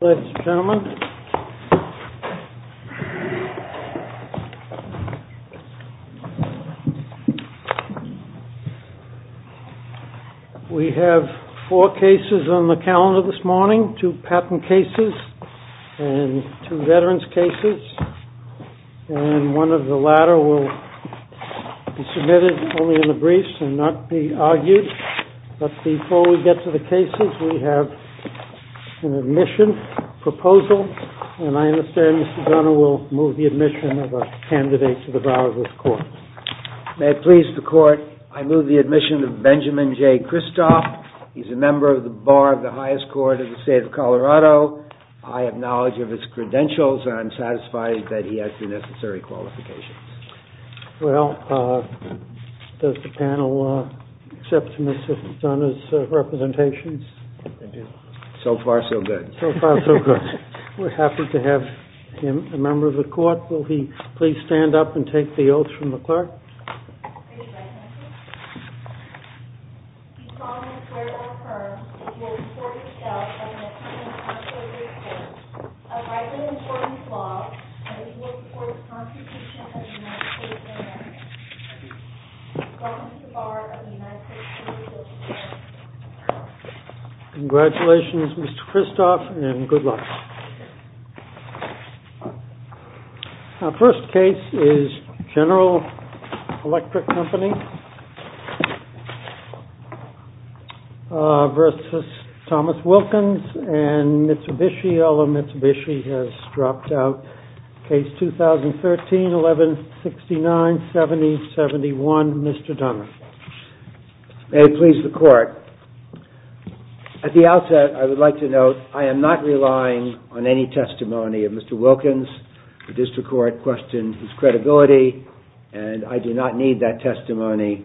Ladies and gentlemen, we have four cases on the calendar this morning, two patent cases and two veteran's cases, and one of the latter will be submitted only in the briefs and not be submitted in the briefs, and I have a proposal, and I understand Mr. Gunner will move the admission of a candidate to the bar of this court. May it please the court, I move the admission of Benjamin J. Kristoff. He's a member of the bar of the highest court of the state of Colorado. I have knowledge of his credentials and I'm satisfied that he has the necessary qualifications. Well, does the panel accept Mr. Gunner's representations? So far so good. We're happy to have him as a member of the court. Will he please stand up and take the oath from the clerk? I pledge allegiance to the flag of the United States of America and to the republic for which it stands, one nation, under God, indivisible, with liberty and justice for all. Congratulations, Mr. Kristoff, and good luck. Our first case is General Electric Company versus Thomas Wilkins and Mitsubishi, although Mitsubishi has dropped out. Case 2013-11-69-70-71, Mr. Gunner. May it please the court, at the outset I would like to note I am not relying on any testimony of Mr. Wilkins. The district court questioned his credibility and I do not need that testimony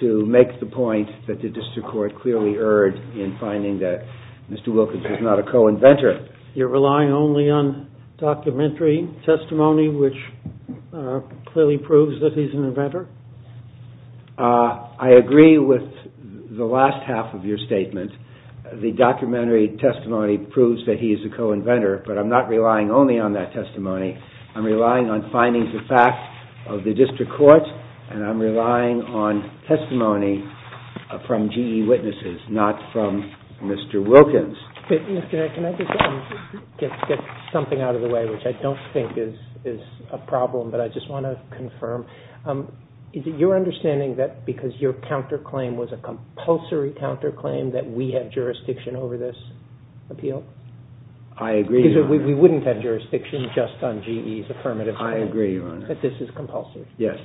to make the point that the district court clearly erred in finding that Mr. Wilkins was not a co-inventor. You're relying only on documentary testimony which clearly proves that he's an inventor? I agree with the last half of your statement. The documentary testimony proves that he is a co-inventor, but I'm not relying only on that testimony. I'm relying on findings of fact of the district court and I'm relying on testimony from GE witnesses, not from Mr. Wilkins. Can I just get something out of the way, which I don't think is a problem, but I just want to confirm. Is it your understanding that because your counterclaim was a compulsory counterclaim that we have jurisdiction over this appeal? I agree, Your Honor. We wouldn't have jurisdiction just on GE's affirmative claim? I agree, Your Honor. That this is compulsory? Yes.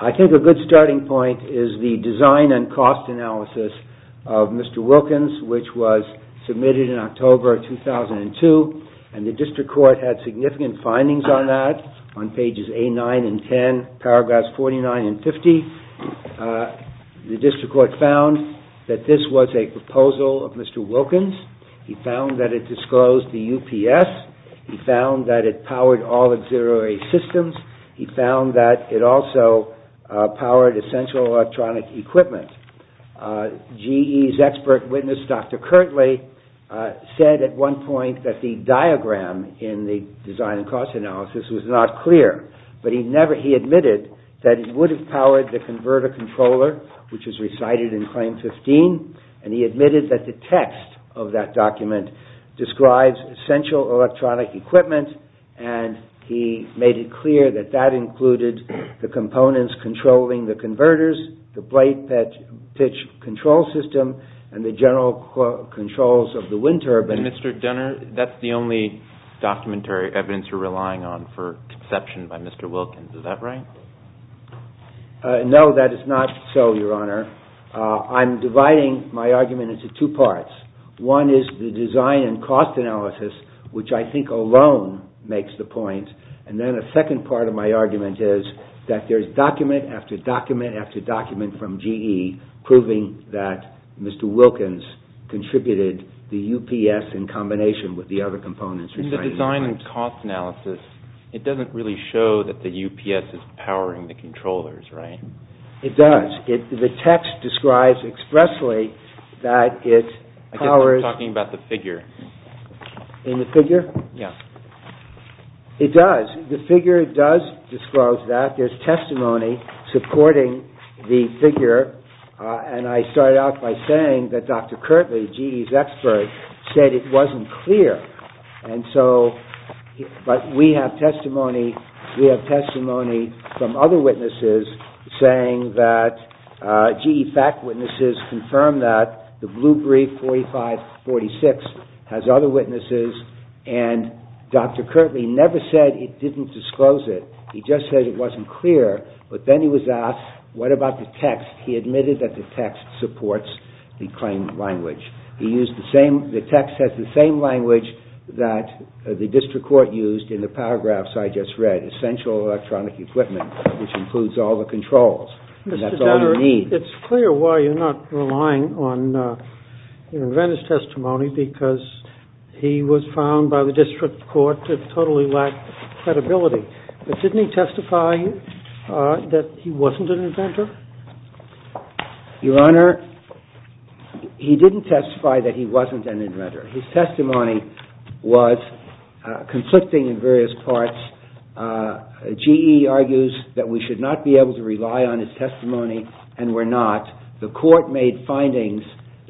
I think a good starting point is the design and cost analysis of Mr. Wilkins, which was submitted in October 2002 and the district court had significant findings on that on pages A9 and 10, paragraphs 49 and 50. The district court found that this was a proposal of Mr. Wilkins. He found that it disclosed the UPS. He found that it powered all auxiliary systems. He found that it also powered essential electronic equipment. GE's expert witness, Dr. Kirtley, said at one point that the diagram in the design and cost analysis was not clear, but he admitted that it would have powered the converter controller, which was recited in Claim 15. He admitted that the text of that document describes essential electronic equipment and he made it clear that that included the components controlling the converters, the plate pitch control system, and the general controls of the wind turbine. Mr. Gunner, that's the only documentary evidence you're relying on for conception by Mr. Wilkins. Is that right? No, that is not so, Your Honor. I'm dividing my argument into two parts. One is the design and cost analysis, which I think alone makes the point, and then a second part of my argument is that there's document after document after document from GE proving that Mr. Wilkins contributed the UPS in combination with the other components. In the design and cost analysis, it doesn't really show that the UPS is powering the controllers, right? It does. The text describes expressly that it powers... I guess we're talking about the figure. In the figure? Yeah. It does. The figure does disclose that. There's testimony supporting the figure, and I started out by saying that Dr. Kirtley, GE's expert, said it wasn't clear. But we have testimony from other witnesses saying that GE fact witnesses confirmed that the blue brief 4546 has other witnesses, and Dr. Kirtley never said it didn't disclose it. He just said it wasn't clear, but then he was asked, what about the text? He admitted that the text supports the claimant language. The text has the same language that the district court used in the paragraphs I just read, essential electronic equipment, which includes all the controls, and that's all you need. It's clear why you're not relying on your inventor's testimony, because he was found by the district court to totally lack credibility. But didn't he testify that he wasn't an inventor? Your Honor, he didn't testify that he wasn't an inventor. His testimony was conflicting in various parts. GE argues that we should not be able to rely on his testimony, and we're not. The court made findings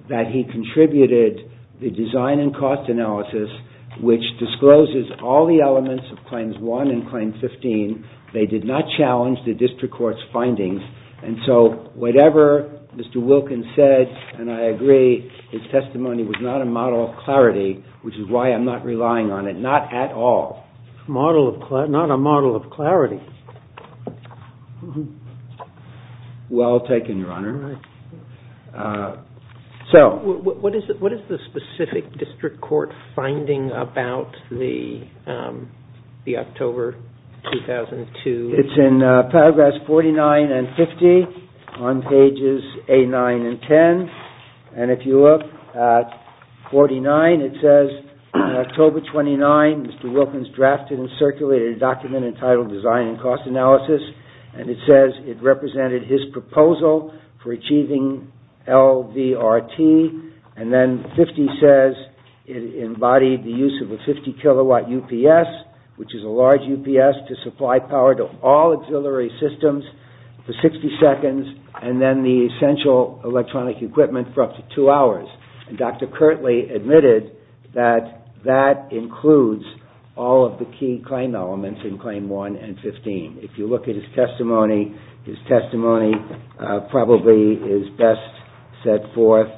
that he contributed the design and cost analysis, which discloses all the elements of Claims 1 and Claim 15. They did not challenge the district court's findings, and so whatever Mr. Wilkins said, and I agree, his testimony was not a model of clarity, which is why I'm not relying on it, not at all. Not a model of clarity. Well taken, Your Honor. What is the specific district court finding about the October 2002? It's in paragraphs 49 and 50 on pages 8, 9, and 10, and if you look at 49, it says October 29, Mr. Wilkins drafted and circulated a document entitled Design and Cost Analysis, and it says it represented his proposal for achieving LVRT, and then 50 says it embodied the use of a 50 kilowatt UPS, which is a large UPS to supply power to all auxiliary systems for 60 seconds, and then the essential electronic equipment for up to two hours. Dr. Kirtley admitted that that includes all of the key claim elements in Claim 1 and 15. If you look at his testimony, his testimony probably is best set forth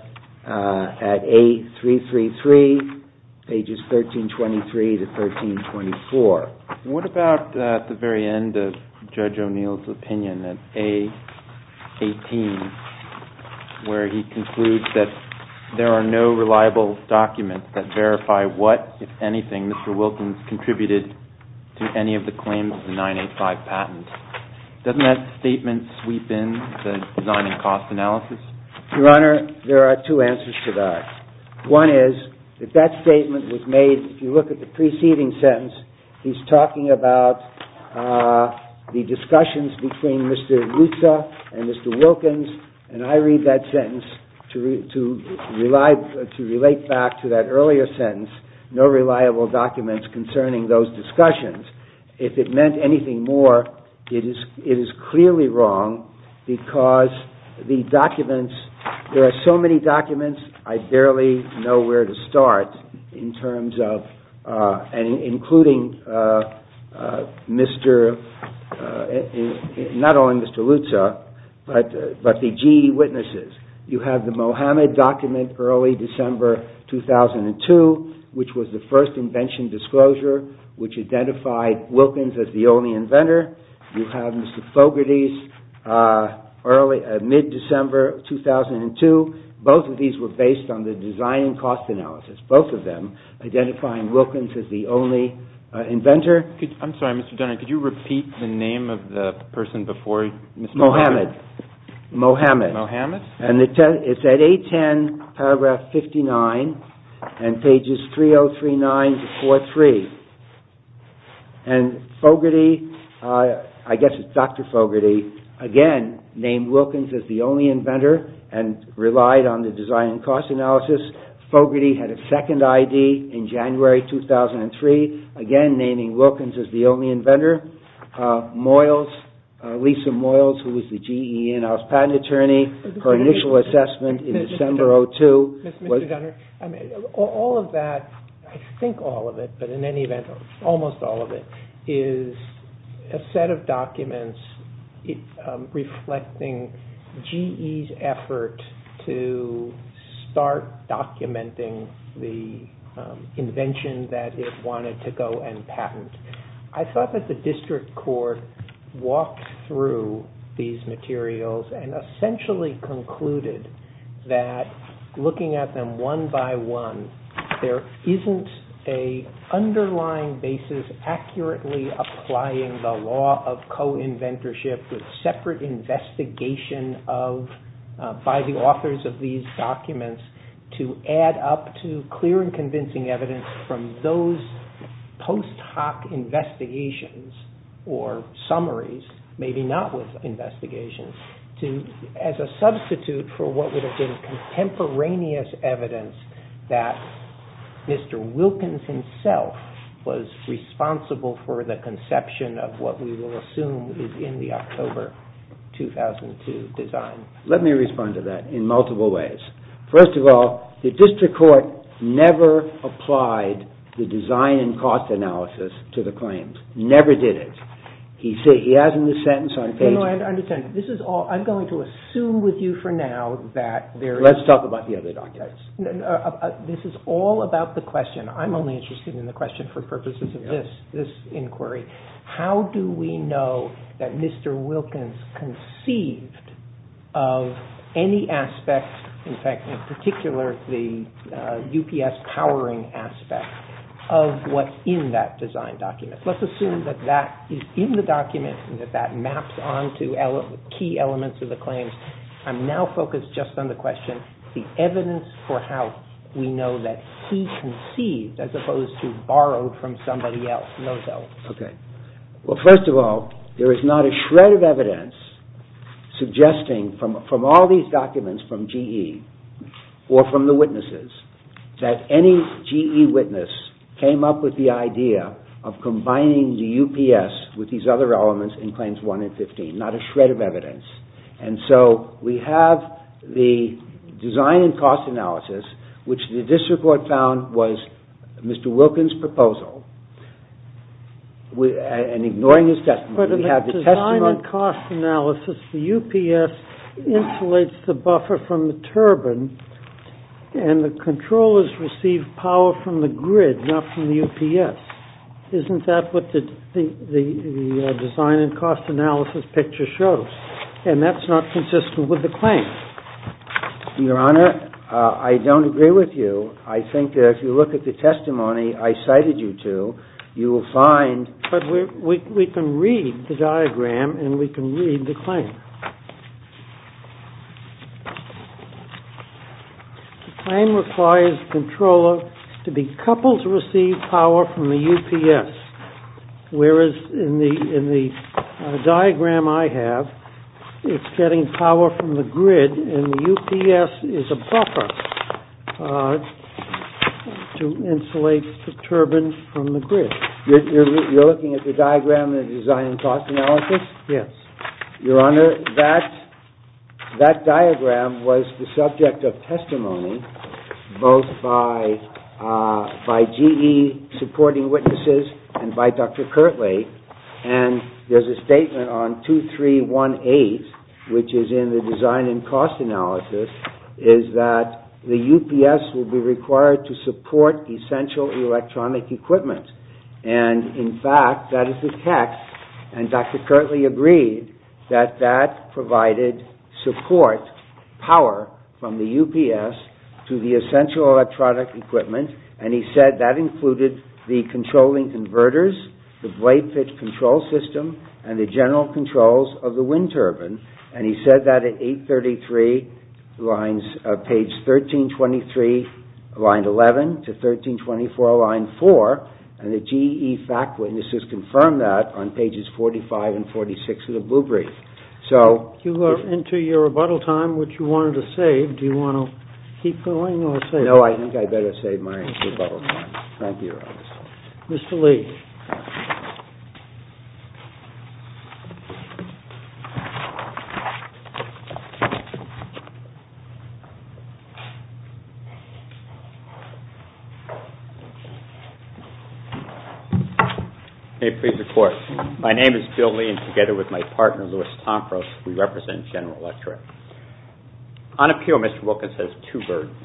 at A333, pages 1323 to 1324. What about at the very end of Judge O'Neill's opinion at A18, where he concludes that there are no reliable documents that verify what, if anything, Mr. Wilkins contributed to any of the claims of the 985 patent? Doesn't that statement sweep in to Design and Cost Analysis? Your Honor, there are two answers to that. One is, if that statement was made, if you look at the preceding sentence, he's talking about the discussions between Mr. Lutzer and Mr. Wilkins, and I read that sentence to relate back to that earlier sentence, no reliable documents concerning those discussions. If it meant anything more, it is clearly wrong because the documents, there are so many documents, I barely know where to start in terms of, and including Mr., not only Mr. Lutzer, but the GE witnesses. You have the Mohamed document early December 2002, which was the first invention disclosure, which identified Wilkins as the only inventor. You have Mr. Fogarty's mid-December 2002. Both of these were based on the Design and Cost Analysis, both of them identifying Wilkins as the only inventor. I'm sorry, Mr. Dunner, could you repeat the name of the person before Mr. Fogarty? Mohamed. Mohamed. Mohamed? It's at 810, paragraph 59, and pages 3039 to 43. And Fogarty, I guess it's Dr. Fogarty, again named Wilkins as the only inventor and relied on the Design and Cost Analysis. Fogarty had a second ID in January 2003, again naming Wilkins as the only inventor. Moyles, Lisa Moyles, who was the GE in-house patent attorney, her initial assessment in December 2002. All of that, I think all of it, but in any event, almost all of it, is a set of documents reflecting GE's effort to start documenting the invention that it wanted to go and patent. I thought that the district court walked through these materials and essentially concluded that looking at them one by one, there isn't an underlying basis accurately applying the law of co-inventorship with separate investigation by the authors of these documents to add up to clear and convincing evidence from those post hoc investigations or summaries, maybe not with investigations, as a substitute for what would have been contemporaneous evidence that Mr. Wilkins himself was responsible for the conception of what we will assume is in the October 2002 design. Let me respond to that in multiple ways. First of all, the district court never applied the Design and Cost Analysis to the claims, never did it. He has in the sentence on page... of any aspect, in fact, in particular, the UPS powering aspect of what's in that design document. Let's assume that that is in the document and that that maps onto key elements of the claims. I'm now focused just on the question, the evidence for how we know that he conceived as opposed to borrowed from somebody else. Well, first of all, there is not a shred of evidence suggesting from all these documents from GE or from the witnesses that any GE witness came up with the idea of combining the UPS with these other elements in Claims 1 and 15. Not a shred of evidence. And so we have the Design and Cost Analysis, which the district court found was Mr. Wilkins' proposal, and ignoring his testimony, we have the testimony... and that's not consistent with the claim. Your Honor, I don't agree with you. I think that if you look at the testimony I cited you to, you will find... But we can read the diagram and we can read the claim. The claim requires the controller to be coupled to receive power from the UPS, whereas in the diagram I have, it's getting power from the grid and the UPS is a buffer to insulate the turbine from the grid. You're looking at the diagram in the Design and Cost Analysis? Yes. And in fact, that is the text, and Dr. Kirtley agreed that that provided support, power, from the UPS to the essential electronic equipment, and he said that included the controlling converters, the blade pitch control system, and the general controls of the wind turbine. And he said that at page 1323, line 11, to 1324, line 4, and the GE fact witnesses confirmed that on pages 45 and 46 of the blue brief. You are into your rebuttal time, which you wanted to save. Do you want to keep going or save it? No, I think I better save my rebuttal time. Thank you, Your Honor. Mr. Lee. May it please the Court. My name is Bill Lee, and together with my partner, Louis Tomfros, we represent General Electric. On appeal, Mr. Wilkins has two burdens.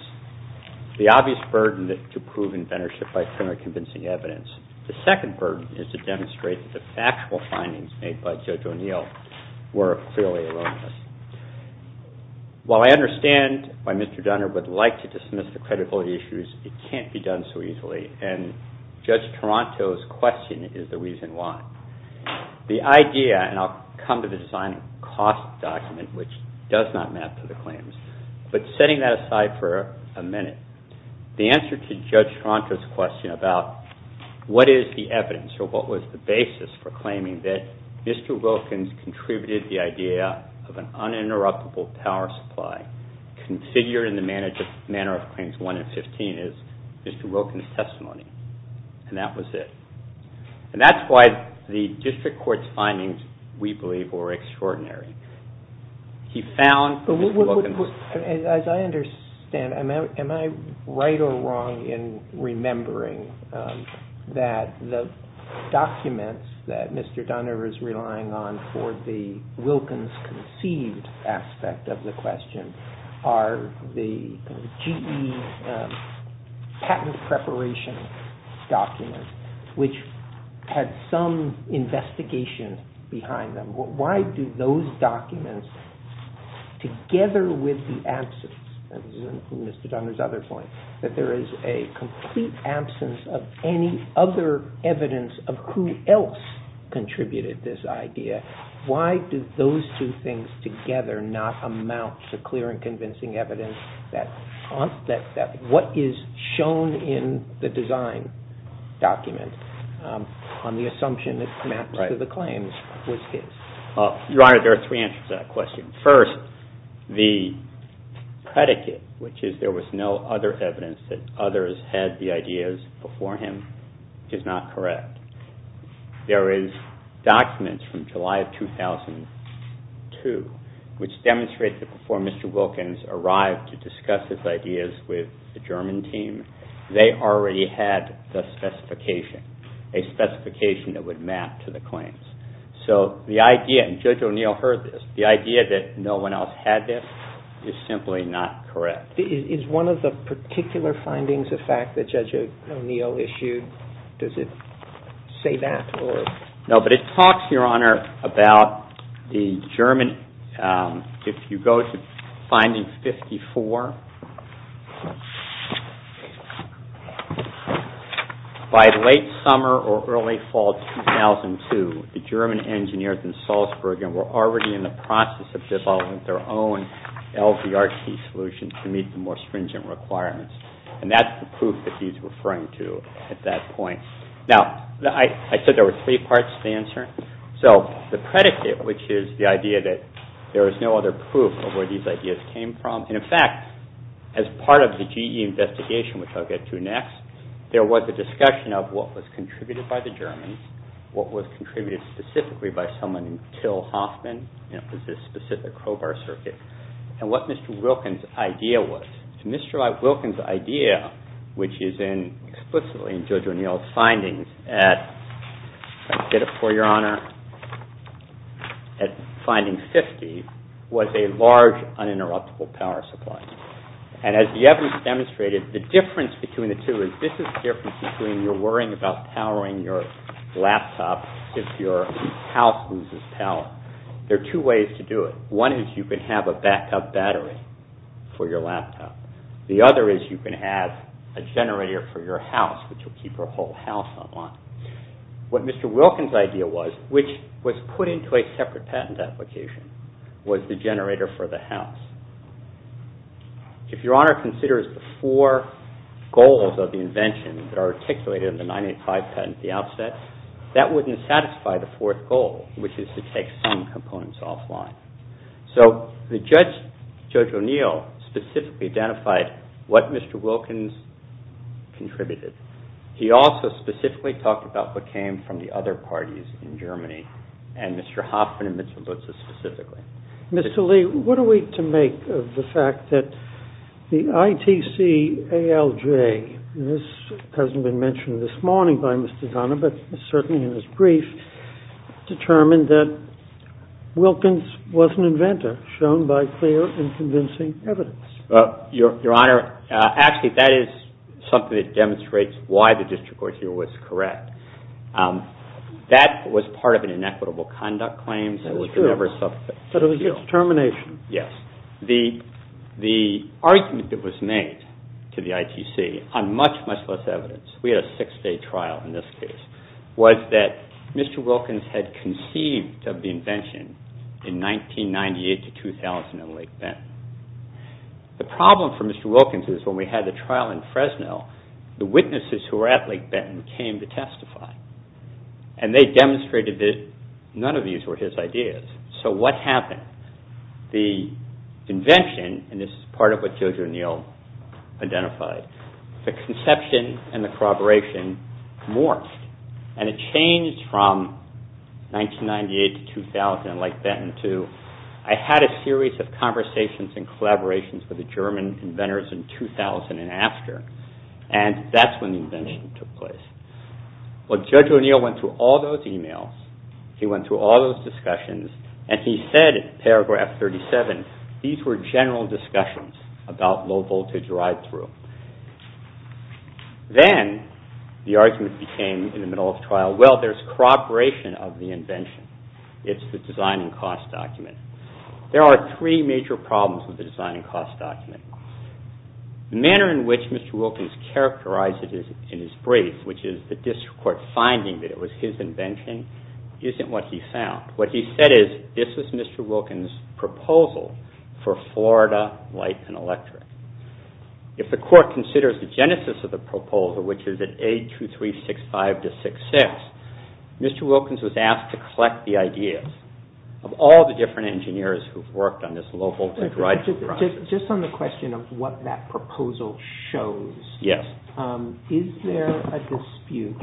The obvious burden is to prove inventorship by similar convincing evidence. The second burden is to demonstrate that the factual findings made by Judge O'Neill were clearly erroneous. While I understand why Mr. Dunner would like to dismiss the credibility issues, it can't be done so easily, and Judge Toronto's question is the reason why. The idea, and I'll come to the design and cost document, which does not map to the claims, but setting that aside for a minute, the answer to Judge Toronto's question about what is the evidence, or what was the basis for claiming that Mr. Wilkins contributed the idea of an uninterruptible power supply, configured in the manner of claims 1 and 15, is Mr. Wilkins' testimony. And that was it. And that's why the district court's findings, we believe, were extraordinary. He found that Mr. Wilkins... documents, which had some investigation behind them. Why do those documents, together with the absence, and this is Mr. Dunner's other point, that there is a complete absence of any other evidence of who else contributed this idea, why do those two things together not amount to clear and convincing evidence that what is shown in the design document, on the assumption that it maps to the claims, was his? 2002, which demonstrates that before Mr. Wilkins arrived to discuss his ideas with the German team, they already had the specification, a specification that would map to the claims. So the idea, and Judge O'Neill heard this, the idea that no one else had this is simply not correct. Is one of the particular findings of fact that Judge O'Neill issued, does it say that? And that's the proof that he's referring to at that point. Now, I said there were three parts to the answer. So the predicate, which is the idea that there is no other proof of where these ideas came from, and in fact, as part of the GE investigation, which I'll get to next, there was a discussion of what was contributed by the Germans, what was contributed specifically by someone named Till Hoffman, and it was this specific crowbar circuit. And what Mr. Wilkins' idea was. Mr. Wilkins' idea, which is explicitly in Judge O'Neill's findings at, I'll get it for your honor, at finding 50, was a large uninterruptible power supply. And as the evidence demonstrated, the difference between the two is this is the difference between your worrying about powering your laptop if your house loses power. There are two ways to do it. One is you can have a backup battery for your laptop. The other is you can have a generator for your house, which will keep your whole house on line. What Mr. Wilkins' idea was, which was put into a separate patent application, was the generator for the house. If your honor considers the four goals of the invention that are articulated in the 985 patent at the outset, that wouldn't satisfy the fourth goal, which is to take some components offline. So Judge O'Neill specifically identified what Mr. Wilkins contributed. He also specifically talked about what came from the other parties in Germany, and Mr. Hoffman and Mr. Lutze specifically. Mr. Lee, what are we to make of the fact that the ITC-ALJ, and this hasn't been mentioned this morning by Mr. Donner, but certainly in his brief, determined that Wilkins was an inventor shown by clear and convincing evidence? Well, your honor, actually that is something that demonstrates why the district court here was correct. That was part of an inequitable conduct claim. But it was his determination. Yes. The argument that was made to the ITC on much, much less evidence, we had a six-day trial in this case, was that Mr. Wilkins had conceived of the invention in 1998 to 2000 in Lake Benton. The problem for Mr. Wilkins is when we had the trial in Fresno, the witnesses who were at Lake Benton came to testify. And they demonstrated that none of these were his ideas. So what happened? The invention, and this is part of what Judge O'Neill identified, the conception and the corroboration morphed. And it changed from 1998 to 2000 in Lake Benton to, I had a series of conversations and collaborations with the German inventors in 2000 and after. And that's when the invention took place. Well, Judge O'Neill went through all those emails, he went through all those discussions, and he said in paragraph 37, these were general discussions about low-voltage drive-through. Then the argument became in the middle of trial, well, there's corroboration of the invention. It's the design and cost document. There are three major problems with the design and cost document. The manner in which Mr. Wilkins characterized it in his brief, which is the district court finding that it was his invention, isn't what he found. What he said is, this is Mr. Wilkins' proposal for Florida Light and Electric. If the court considers the genesis of the proposal, which is at A2365-66, Mr. Wilkins was asked to collect the ideas of all the different engineers who've worked on this low-voltage drive-through process. Just on the question of what that proposal shows, is there a dispute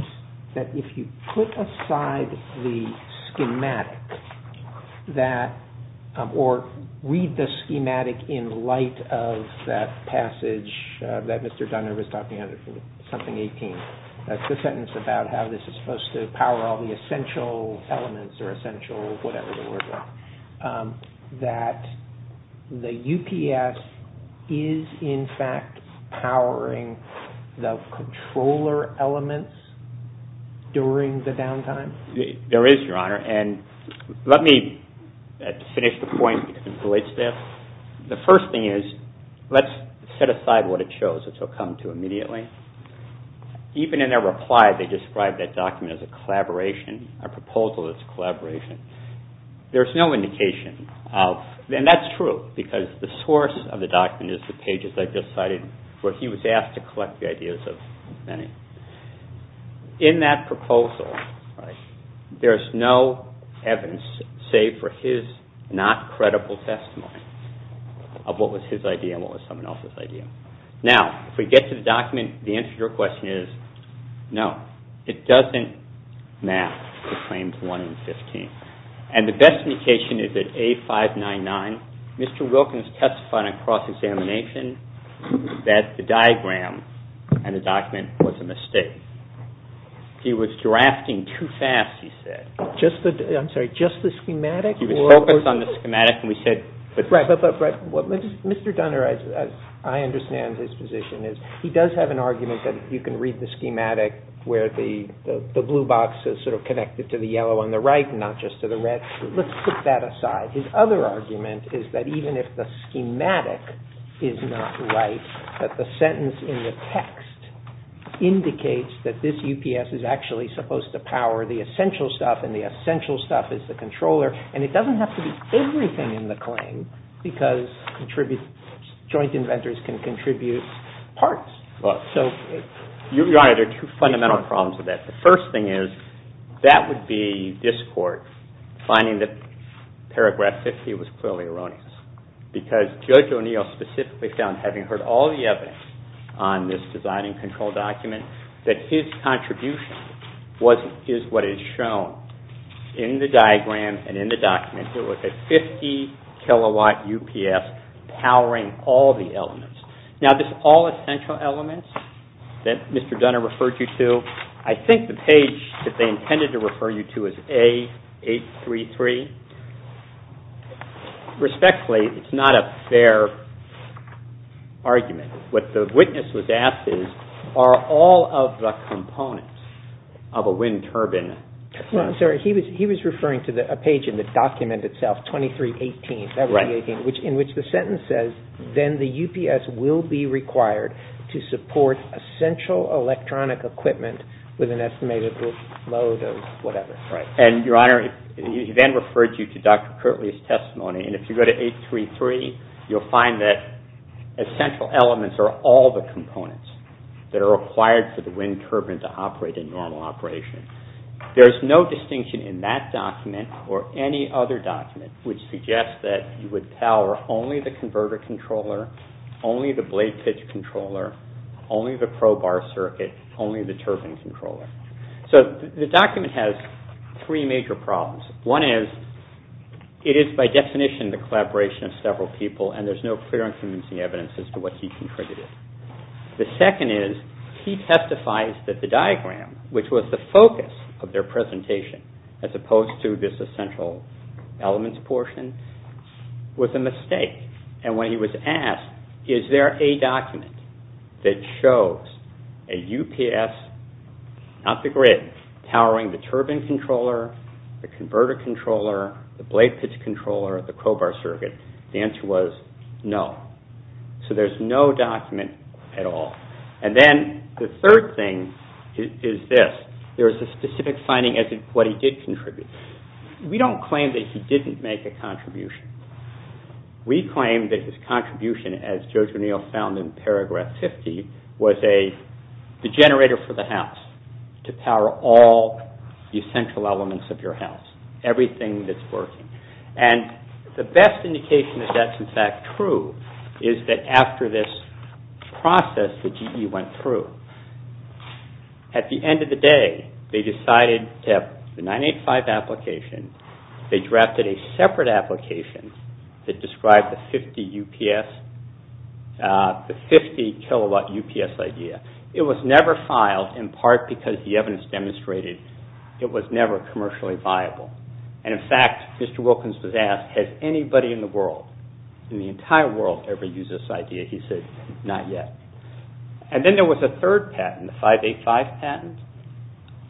that if you put aside the schematic, or read the schematic in light of that passage that Mr. Dunner was talking about, something 18, that's the sentence about how this is supposed to power all the essential elements or essential whatever the word was, that the UPS is in fact powering the controller elements during the downtime? There is, Your Honor, and let me finish the point. The first thing is, let's set aside what it shows, which I'll come to immediately. Even in their reply, they described that document as a collaboration, a proposal that's a collaboration. There's no indication of, and that's true, because the source of the document is the pages I just cited where he was asked to collect the ideas of many. In that proposal, there's no evidence, save for his not-credible testimony of what was his idea and what was someone else's idea. Now, if we get to the document, the answer to your question is no. It doesn't match the claims 1 and 15. And the best indication is that A599, Mr. Wilkins testified on cross-examination that the diagram and the document was a mistake. He was drafting too fast, he said. I'm sorry, just the schematic? He was focused on the schematic. Right, but Mr. Dunner, as I understand his position, he does have an argument that you can read the schematic where the blue box is sort of connected to the yellow on the right and not just to the red. Let's put that aside. His other argument is that even if the schematic is not right, that the sentence in the text indicates that this UPS is actually supposed to power the essential stuff, and the essential stuff is the controller, and it doesn't have to be everything in the claim, because joint inventors can contribute parts. Your Honor, there are two fundamental problems with that. The first thing is, that would be discord, finding that paragraph 50 was clearly erroneous. Because Judge O'Neill specifically found, having heard all the evidence on this design and control document, that his contribution is what is shown in the diagram and in the document. It was a 50 kilowatt UPS powering all the elements. Now, this all essential elements that Mr. Dunner referred you to, I think the page that they intended to refer you to is A833. Respectfully, it's not a fair argument. What the witness was asked is, are all of the components of a wind turbine... He was referring to a page in the document itself, A2318, in which the sentence says, then the UPS will be required to support essential electronic equipment with an estimated load of whatever. And, Your Honor, he then referred you to Dr. Kirtley's testimony, and if you go to A833, you'll find that essential elements are all the components that are required for the wind turbine to operate in normal operation. There's no distinction in that document or any other document which suggests that you would power only the converter controller, only the blade pitch controller, only the probar circuit, only the turbine controller. So the document has three major problems. One is, it is by definition the collaboration of several people, and there's no clear and convincing evidence as to what he contributed. The second is, he testifies that the diagram, which was the focus of their presentation, as opposed to this essential elements portion, was a mistake. And when he was asked, is there a document that shows a UPS, not the grid, powering the turbine controller, the converter controller, the blade pitch controller, the probar circuit, the answer was no. So there's no document at all. And then the third thing is this. There's a specific finding as to what he did contribute. We don't claim that he didn't make a contribution. We claim that his contribution, as Judge O'Neill found in paragraph 50, was the generator for the house to power all the essential elements of your house, everything that's working. And the best indication that that's in fact true is that after this process that GE went through, at the end of the day, they decided to have the 985 application, they drafted a separate application that described the 50 kilowatt UPS idea. It was never filed, in part because the evidence demonstrated it was never commercially viable. And in fact, Mr. Wilkins was asked, has anybody in the world, in the entire world ever used this idea? He said, not yet. And then there was a third patent, the 585 patent,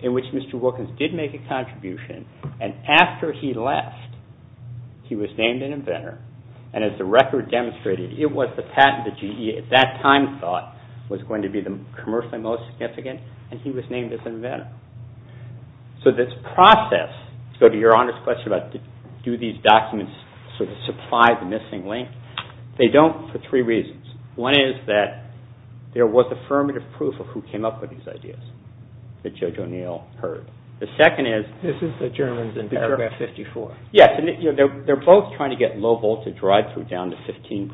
in which Mr. Wilkins did make a contribution and after he left, he was named an inventor, and as the record demonstrated, it was the patent that GE at that time thought was going to be the commercially most significant, and he was named as inventor. So this process, to go to Your Honor's question about do these documents sort of supply the missing link, they don't for three reasons. One is that there was affirmative proof of who came up with these ideas, that Judge O'Neill heard. The second is- This is the Germans in paragraph 54. Yes, and they're both trying to get low voltage drive through down to 15%.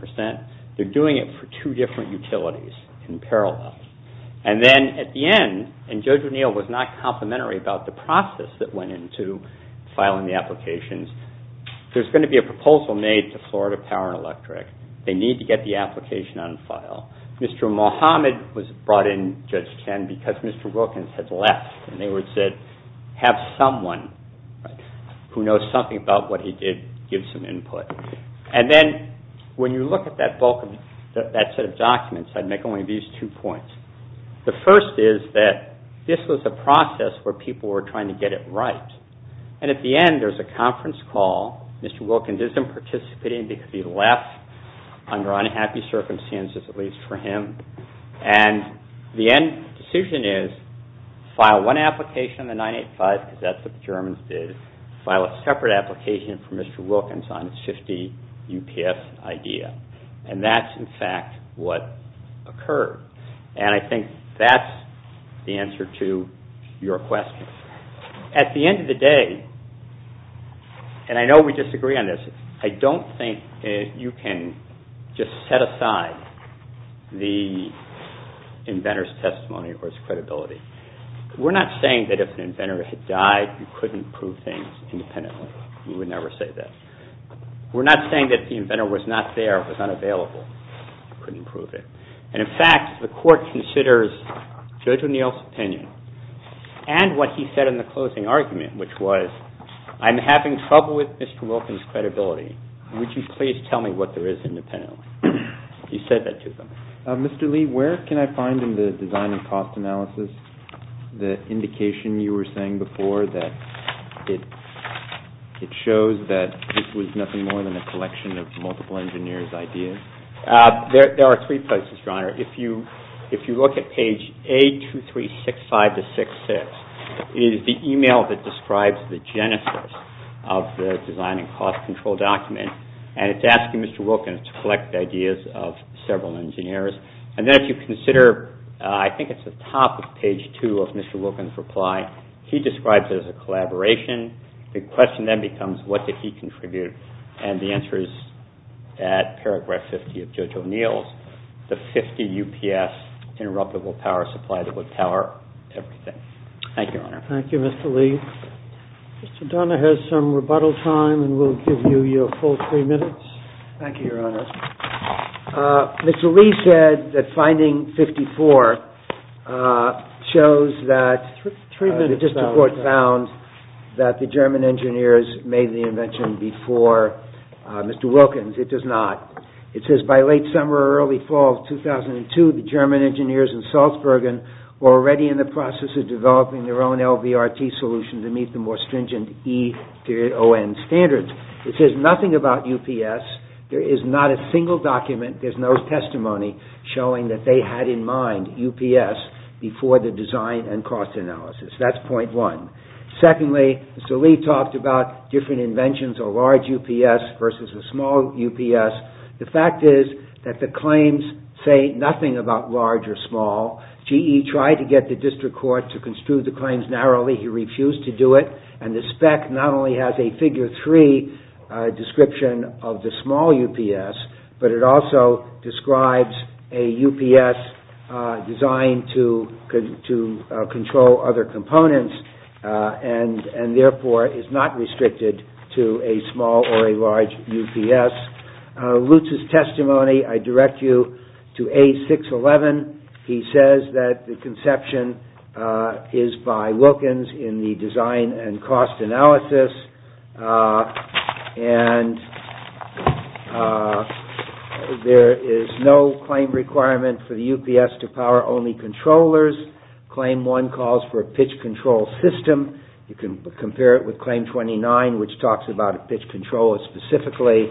They're doing it for two different utilities in parallel. And then at the end, and Judge O'Neill was not complimentary about the process that went into filing the applications, there's going to be a proposal made to Florida Power and Electric. They need to get the application on file. Mr. Mohamed was brought in, Judge Ken, because Mr. Wilkins had left, and they said have someone who knows something about what he did give some input. And then when you look at that set of documents, I'd make only these two points. The first is that this was a process where people were trying to get it right, and at the end, there's a conference call. Mr. Wilkins isn't participating because he left under unhappy circumstances, at least for him. And the end decision is file one application, the 985, because that's what the Germans did, file a separate application for Mr. Wilkins on his 50 UPS idea. And that's in fact what occurred. And I think that's the answer to your question. At the end of the day, and I know we disagree on this, I don't think you can just set aside the inventor's testimony or his credibility. We're not saying that if an inventor had died, you couldn't prove things independently. We would never say that. We're not saying that the inventor was not there, was unavailable, couldn't prove it. And in fact, the Court considers Judge O'Neill's opinion and what he said in the closing argument, which was I'm having trouble with Mr. Wilkins' credibility. Would you please tell me what there is independently? He said that to them. Mr. Lee, where can I find in the design and cost analysis the indication you were saying before that it shows that this was nothing more than a collection of multiple engineers' ideas? There are three places, Your Honor. If you look at page A2365-66, it is the email that describes the genesis of the design and cost control document. And it's asking Mr. Wilkins to collect the ideas of several engineers. And then if you consider, I think it's at the top of page 2 of Mr. Wilkins' reply, he describes it as a collaboration. The question then becomes what did he contribute? And the answer is at paragraph 50 of Judge O'Neill's, the 50 UPS interruptible power supply that would power everything. Thank you, Your Honor. Thank you, Mr. Lee. Mr. Donahue has some rebuttal time and will give you your full three minutes. Thank you, Your Honor. Mr. Lee said that finding 54 shows that the district court found that the German engineers made the invention before Mr. Wilkins. It does not. It says by late summer or early fall of 2002, the German engineers in Salzburg were already in the process of developing their own LVRT solution to meet the more stringent E-ON standards. It says nothing about UPS. There is not a single document, there's no testimony showing that they had in mind UPS before the design and cost analysis. That's point one. Secondly, Mr. Lee talked about different inventions, a large UPS versus a small UPS. The fact is that the claims say nothing about large or small. GE tried to get the district court to construe the claims narrowly. He refused to do it. And the spec not only has a figure three description of the small UPS, but it also describes a UPS designed to control other components and therefore is not restricted to a small or a large UPS. Lutz's testimony, I direct you to A611. He says that the conception is by Wilkins in the design and cost analysis. And there is no claim requirement for the UPS to power only controllers. Claim one calls for a pitch control system. You can compare it with claim 29 which talks about a pitch controller specifically.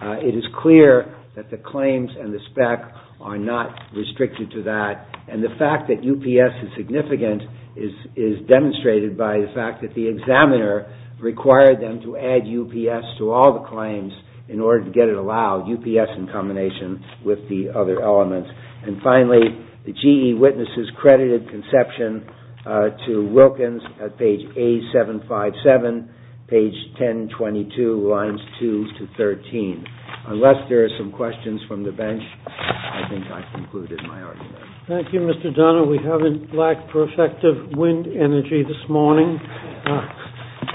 It is clear that the claims and the spec are not restricted to that. And the fact that UPS is significant is demonstrated by the fact that the examiner required them to add UPS to all the claims in order to get it allowed, UPS in combination with the other elements. And finally, the GE witnesses credited conception to Wilkins at page A757, page 1022, lines 2 to 13. Unless there are some questions from the bench, I think I've concluded my argument. Thank you, Mr. Donohue. We haven't lacked perfective wind energy this morning.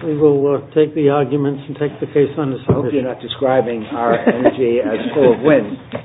We will take the arguments and take the case on the submission. I hope you're not describing our energy as full of wind.